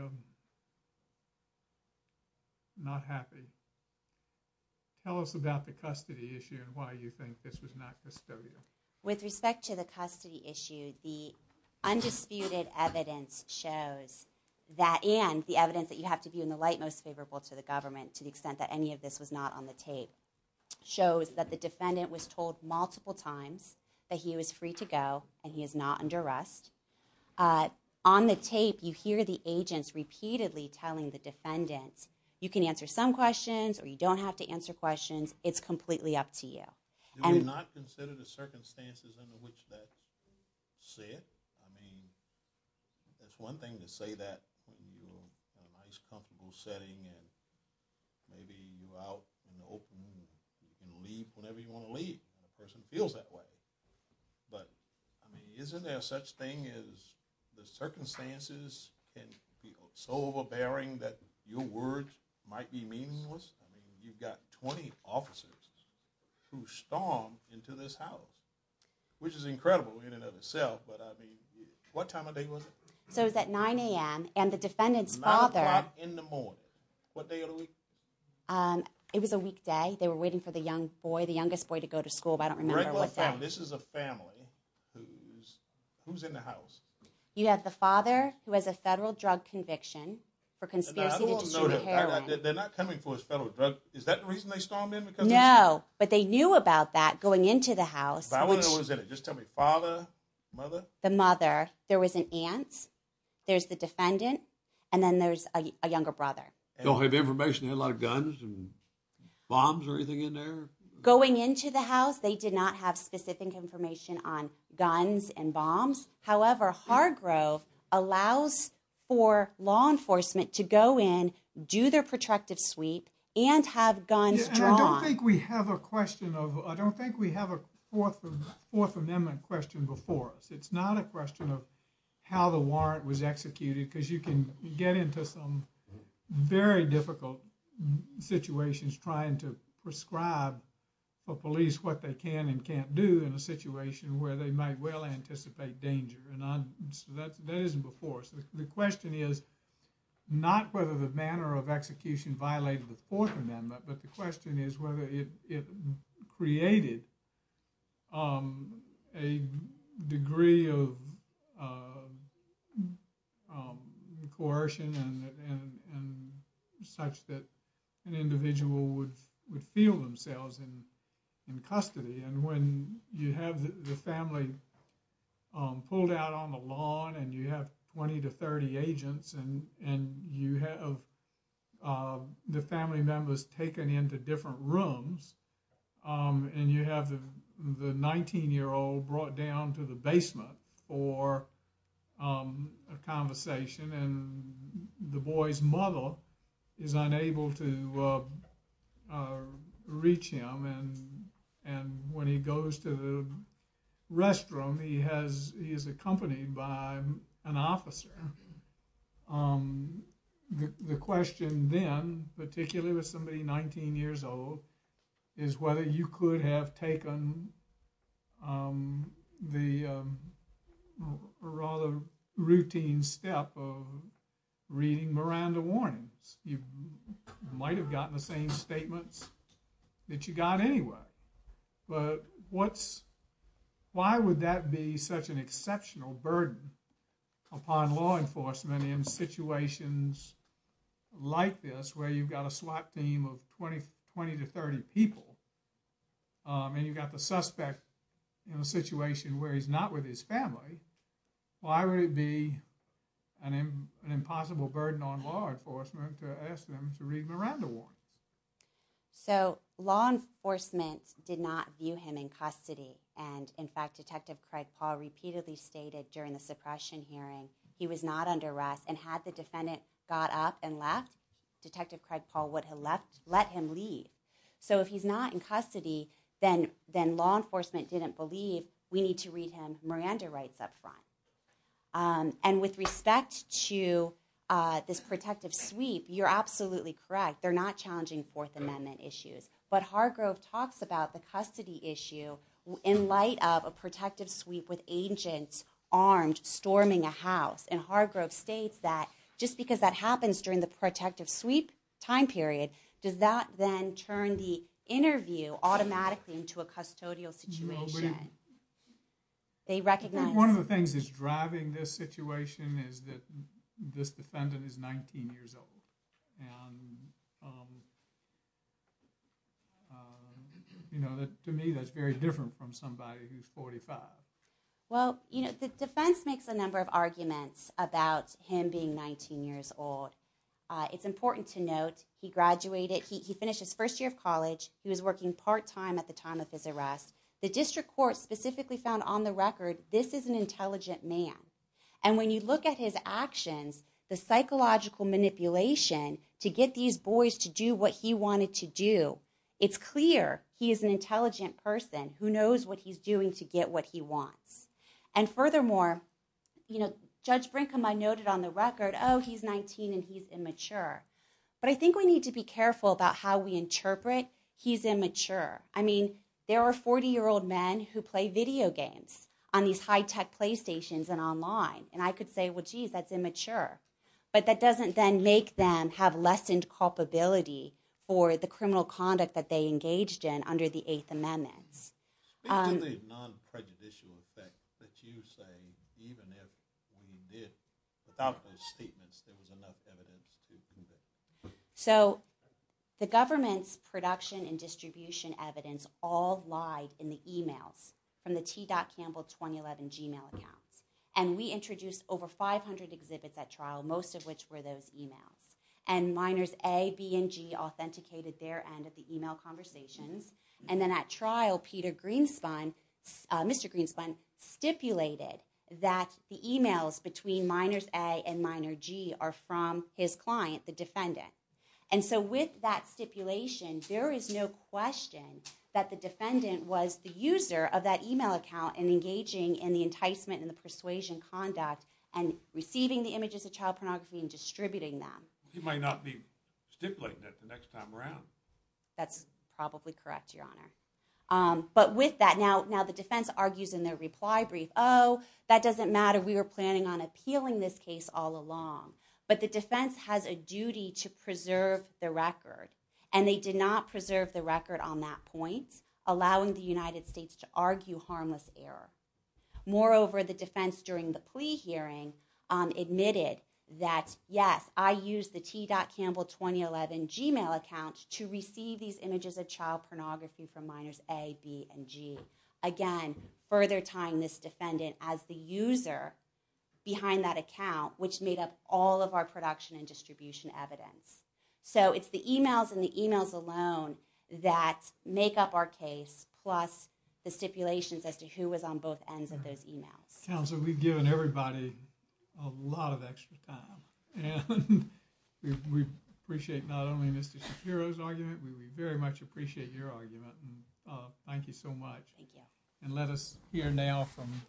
not happy. Tell us about the custody issue and why you think this was not custodial. With respect to the custody issue, the undisputed evidence shows that and the evidence that you have to view in the light most favorable to the government to the extent that any of this was not on the tape shows that the defendant was told multiple times that he was free to go and he is not under arrest. On the tape, you hear the agents repeatedly telling the defendants, you can answer some questions or you don't have to answer questions, it's completely up to you. Do you not consider the circumstances under which that is said? I mean, it's one thing to say that in a nice comfortable setting and maybe you're out in the open and you can leave whenever you want to leave and the person feels that way. But isn't there such thing as the circumstances can feel so overbearing that your words might be meaningless? I mean, you've got 20 officers who stormed into this house, which is incredible in and of itself, but I mean, what time of day was it? So it was at 9 a.m. and the defendant's father... 9 o'clock in the morning. What day of the week? It was a weekday. They were waiting for the young boy, the youngest boy, to go to school, but I don't remember what day. This is a family who's in the house. You have the father who has a federal drug conviction for conspiracy to distribute heroin. They're not coming for his federal drug. Is that the reason they stormed in? No, but they knew about that going into the house. What was in it? Just tell me. Father? Mother? The mother. There was an aunt. There's the defendant. And then there's a younger brother. Don't they have information? They had a lot of guns and bombs or anything in there? Going into the house, they did not have specific information on guns and bombs. However, Hargrove allows for law enforcement to go in, do their protracted sweep, and have guns drawn. I don't think we have a question of... I don't think we have a Fourth Amendment question before us. It's not a question of how the warrant was executed, because you can get into some very difficult situations trying to prescribe for police what they can and can't do in a situation where they might well anticipate danger. That isn't before us. The question is not whether the manner of execution violated the Fourth Amendment, but the question is whether it created a degree of coercion such that an individual would feel themselves in custody. And when you have the family pulled out on the lawn and you have 20 to 30 agents, and you have the family members taken into different rooms, and you have the 19-year-old brought down to the basement for a conversation, and the boy's mother is unable to reach him, and when he goes to the restroom, he is accompanied by an officer. The question then, particularly with somebody 19 years old, is whether you could have taken the rather routine step of reading Miranda warnings. You might have gotten the same statements that you got anyway. But why would that be such an exceptional burden upon law enforcement in situations like this where you've got a SWAT team of 20 to 30 people and you've got the suspect in a situation where he's not with his family? Why would it be an impossible burden on law enforcement to ask them to read Miranda warnings? So, law enforcement did not view him in custody. And, in fact, Detective Craig Paul repeatedly stated during the suppression hearing he was not under arrest, and had the defendant got up and left, Detective Craig Paul would have let him leave. So if he's not in custody, then law enforcement didn't believe, we need to read him Miranda rights up front. And with respect to this protective sweep, you're absolutely correct. They're not challenging Fourth Amendment issues. But Hargrove talks about the custody issue in light of a protective sweep with agents armed storming a house. And Hargrove states that just because that happens during the protective sweep time period, does that then turn the interview automatically into a custodial situation? They recognize... One of the things that's driving this situation is that this defendant is 19 years old. And, you know, to me that's very different from somebody who's 45. Well, you know, the defense makes a number of arguments about him being 19 years old. It's important to note he graduated, he finished his first year of college, he was working part-time at the time of his arrest. The district court specifically found on the record this is an intelligent man. And when you look at his actions, the psychological manipulation to get these boys to do what he wanted to do, it's clear he is an intelligent person who knows what he's doing to get what he wants. And furthermore, you know, Judge Brincombe noted on the record, oh, he's 19 and he's immature. But I think we need to be careful about how we interpret he's immature. I mean, there are 40-year-old men who play video games on these high-tech PlayStations and online. And I could say, well, geez, that's immature. But that doesn't then make them have lessened culpability for the criminal conduct that they engaged in under the Eighth Amendment. Speak to the non-prejudicial effect that you say, even if we did, without those statements, there was enough evidence to prove it. Mr. Greenspan stipulated that the emails between minors A and minor G are from his client, the defendant. And so with that stipulation, there is no question that the defendant was the user of that email account and engaging in the enticement and the persuasion conduct and receiving the images of child pornography and distributing them. He might not be stipulating it the next time around. That's probably correct, Your Honor. But with that, now the defense argues in their reply brief, oh, that doesn't matter. We were planning on appealing this case all along. But the defense has a duty to preserve the record. And they did not preserve the record on that point, allowing the United States to argue harmless error. Moreover, the defense, during the plea hearing, admitted that, yes, I used the T. Campbell 2011 Gmail account to receive these images of child pornography from minors A, B, and G. Again, further tying this defendant as the user behind that account, which made up all of our production and distribution evidence. So it's the emails and the emails alone that make up our case, plus the stipulations as to who was on both ends of those emails. Counsel, we've given everybody a lot of extra time. And we appreciate not only Mr. Shapiro's argument. We very much appreciate your argument. Thank you so much. Thank you. And let us hear now from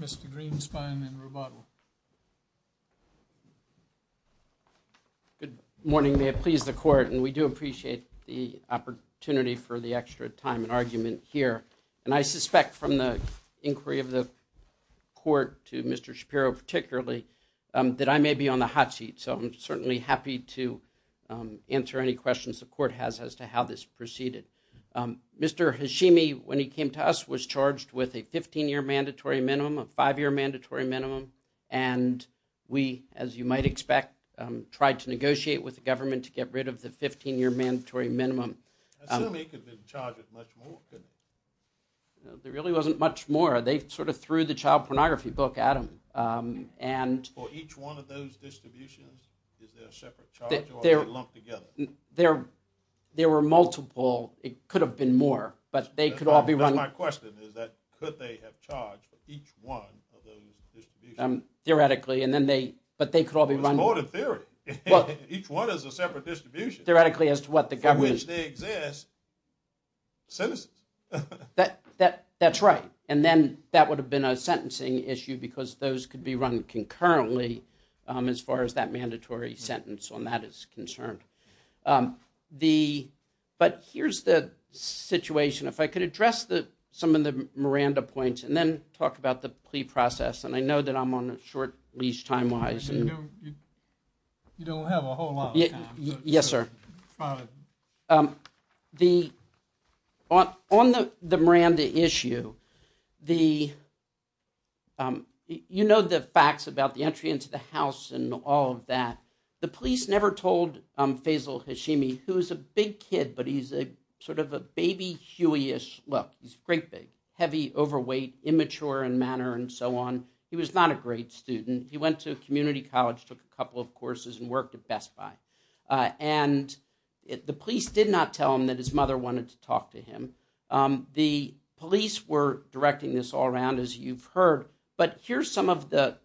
Mr. Greenspan and Rubato. Good morning. May it please the Court, and we do appreciate the opportunity for the extra time and argument here. And I suspect from the inquiry of the Court to Mr. Shapiro particularly that I may be on the hot seat. So I'm certainly happy to answer any questions the Court has as to how this proceeded. Mr. Hashimi, when he came to us, was charged with a 15-year mandatory minimum, a five-year mandatory minimum. And we, as you might expect, tried to negotiate with the government to get rid of the 15-year mandatory minimum. I assume he could have been charged with much more, couldn't he? There really wasn't much more. They sort of threw the child pornography book at him. For each one of those distributions, is there a separate charge or are they lumped together? There were multiple. It could have been more, but they could all be run. That's my question, is that could they have charged for each one of those distributions? Theoretically, but they could all be run. It was courted theory. Each one is a separate distribution. Theoretically, as to what the government... For which they exist, sentences. That's right. And then that would have been a sentencing issue because those could be run concurrently as far as that mandatory sentence on that is concerned. But here's the situation. If I could address some of the Miranda points and then talk about the plea process. And I know that I'm on a short leash time-wise. You don't have a whole lot of time. Yes, sir. On the Miranda issue, you know the facts about the entry into the house and all of that. The police never told Faisal Hashimi, who is a big kid, but he's sort of a baby Huey-ish. Well, he's great big, heavy, overweight, immature in manner and so on. He was not a great student. He went to a community college, took a couple of courses, and worked at Best Buy. And the police did not tell him that his mother wanted to talk to him. The police were directing this all around, as you've heard. But here's some of the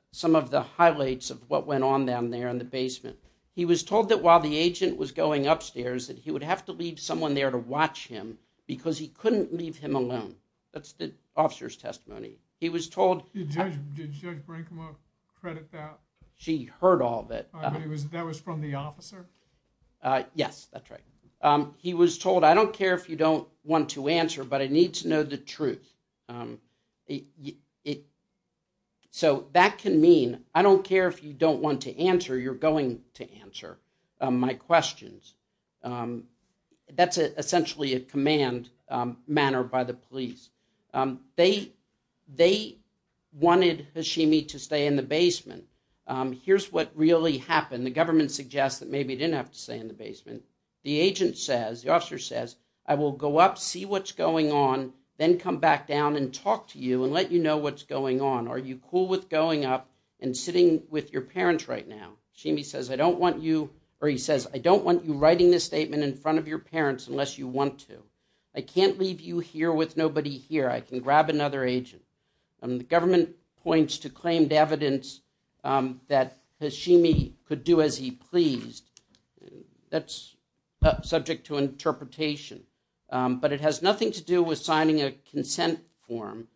highlights of what went on down there in the basement. He was told that while the agent was going upstairs that he would have to leave someone there to watch him because he couldn't leave him alone. That's the officer's testimony. He was told... Did Judge Brinkman credit that? She heard all of it. That was from the officer? Yes, that's right. He was told, I don't care if you don't want to answer, but I need to know the truth. So that can mean, I don't care if you don't want to answer, you're going to answer my questions. That's essentially a command manner by the police. They wanted Hashimi to stay in the basement. Here's what really happened. The government suggests that maybe he didn't have to stay in the basement. The agent says, the officer says, I will go up, see what's going on, then come back down and talk to you and let you know what's going on. Are you cool with going up and sitting with your parents right now? Hashimi says, I don't want you... Or he says, I don't want you writing this statement in front of your parents unless you want to. I can't leave you here with nobody here. I can grab another agent. The government points to claimed evidence that Hashimi could do as he pleased. That's subject to interpretation, but it has nothing to do with signing a consent form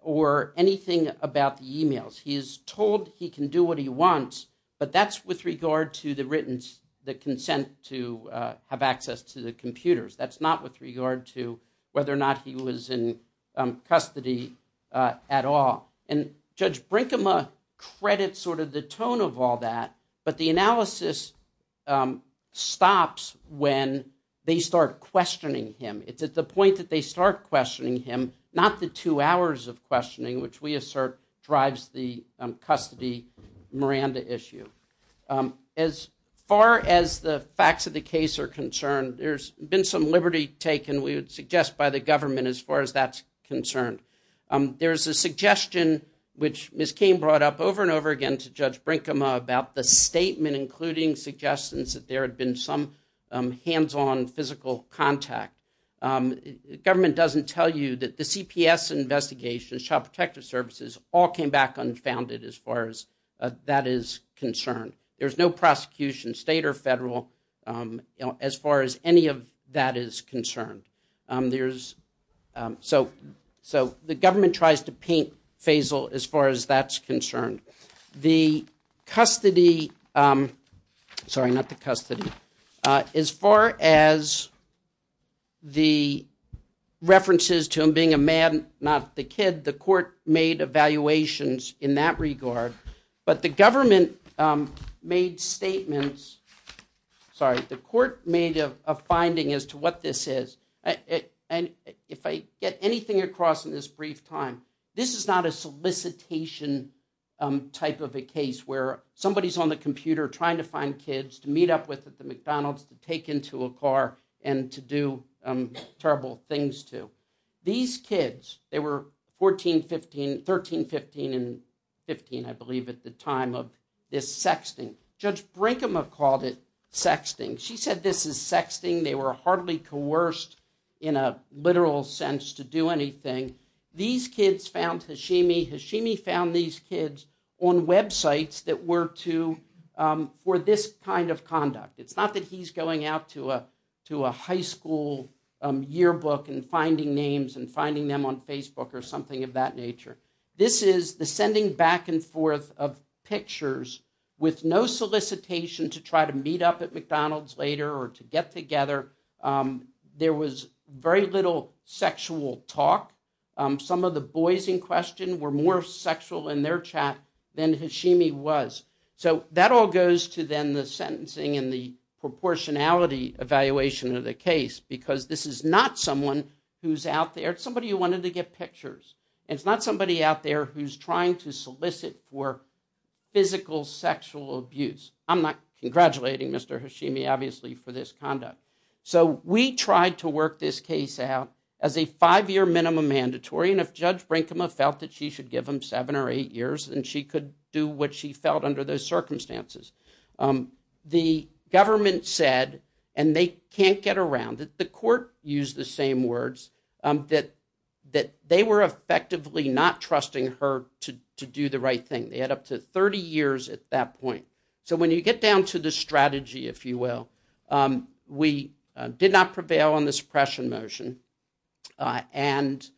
or anything about the emails. He is told he can do what he wants, but that's with regard to the written, the consent to have access to the computers. That's not with regard to whether or not he was in custody at all. And Judge Brinkema credits sort of the tone of all that, but the analysis stops when they start questioning him. It's at the point that they start questioning him, not the two hours of questioning, which we assert drives the custody Miranda issue. As far as the facts of the case are concerned, there's been some liberty taken, we would suggest, by the government as far as that's concerned. There's a suggestion which Ms. Cain brought up over and over again to Judge Brinkema about the statement including suggestions that there had been some hands-on physical contact. Government doesn't tell you that the CPS investigations, Child Protective Services, all came back unfounded as far as that is concerned. There's no prosecution, state or federal, as far as any of that is concerned. So the government tries to paint Faisal as far as that's concerned. The custody, sorry, not the custody, as far as the references to him being a man, not the kid, the court made evaluations in that regard, but the government made statements, sorry, the court made a finding as to what this is, and if I get anything across in this brief time, this is not a solicitation type of a case where somebody's on the computer trying to find kids to meet up with at the McDonald's to take into a car and to do terrible things to. These kids, they were 14, 15, 13, 15, and 15, I believe, at the time of this sexting. Judge Brinkema called it sexting. She said this is sexting. They were hardly coerced in a literal sense to do anything. These kids found Hashimi. Hashimi found these kids on websites that were for this kind of conduct. It's not that he's going out to a high school yearbook and finding names and finding them on Facebook or something of that nature. This is the sending back and forth of pictures with no solicitation to try to meet up at McDonald's later or to get together. There was very little sexual talk. Some of the boys in question were more sexual in their chat than Hashimi was. So that all goes to then the sentencing and the proportionality evaluation of the case because this is not someone who's out there. It's somebody who wanted to get pictures. It's not somebody out there who's trying to solicit for physical sexual abuse. I'm not congratulating Mr. Hashimi, obviously, for this conduct. So we tried to work this case out as a five-year minimum mandatory, and if Judge Brinkema felt that she should give them seven or eight years, then she could do what she felt under those circumstances. The government said, and they can't get around it, the court used the same words, that they were effectively not trusting her to do the right thing. They had up to 30 years at that point. So when you get down to the strategy, if you will, we did not prevail on the suppression motion, and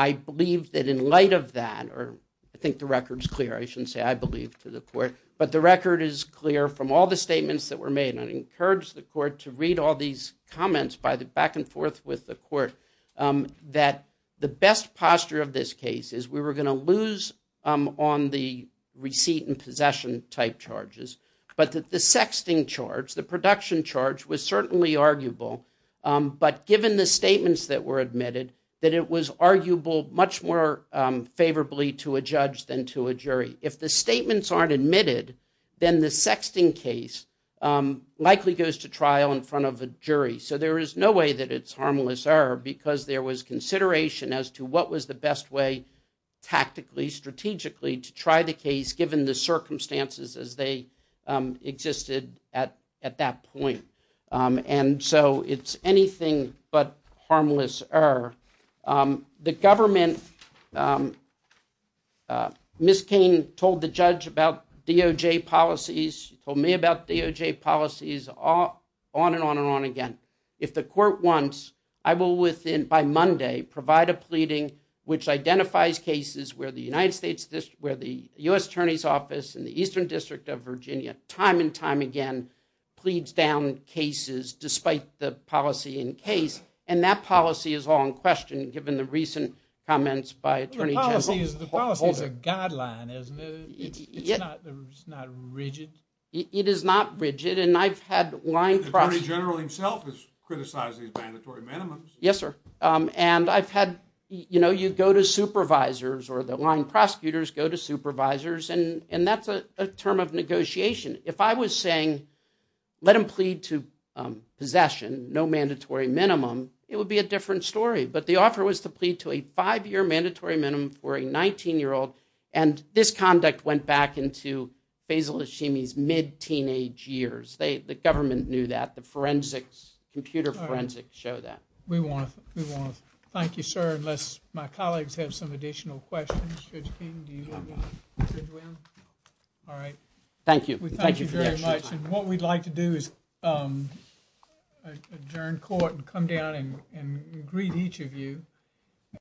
I believe that in light of that, or I think the record's clear. I shouldn't say I believe to the court, but the record is clear from all the statements that were made, and I encourage the court to read all these comments back and forth with the court that the best posture of this case is we were going to lose on the receipt and possession type charges, but that the sexting charge, the production charge, was certainly arguable, but given the statements that were admitted, that it was arguable much more favorably to a judge than to a jury. If the statements aren't admitted, then the sexting case likely goes to trial in front of a jury. So there is no way that it's harmless error because there was consideration as to what was the best way tactically, strategically, to try the case given the circumstances as they existed at that point. And so it's anything but harmless error. The government, Miss Kane told the judge about DOJ policies, told me about DOJ policies, on and on and on again. If the court wants, I will, by Monday, provide a pleading which identifies cases where the U.S. Attorney's Office in the Eastern District of Virginia time and time again pleads down cases despite the policy in case, and that policy is all in question given the recent comments by Attorney General. The policy is a guideline, isn't it? It's not rigid. It is not rigid, and I've had line prosecutors... The Attorney General himself has criticized these mandatory minimums. Yes, sir. And I've had, you know, you go to supervisors or the line prosecutors go to supervisors, and that's a term of negotiation. If I was saying, let them plead to possession, no mandatory minimum, it would be a different story. But the offer was to plead to a five-year mandatory minimum for a 19-year-old, and this conduct went back into Faisal Hashimi's mid-teenage years. The government knew that. The forensics, computer forensics show that. We want to thank you, sir, unless my colleagues have some additional questions. Judge King, do you have one? All right. Thank you. Thank you very much. And what we'd like to do is adjourn court and come down and greet each of you.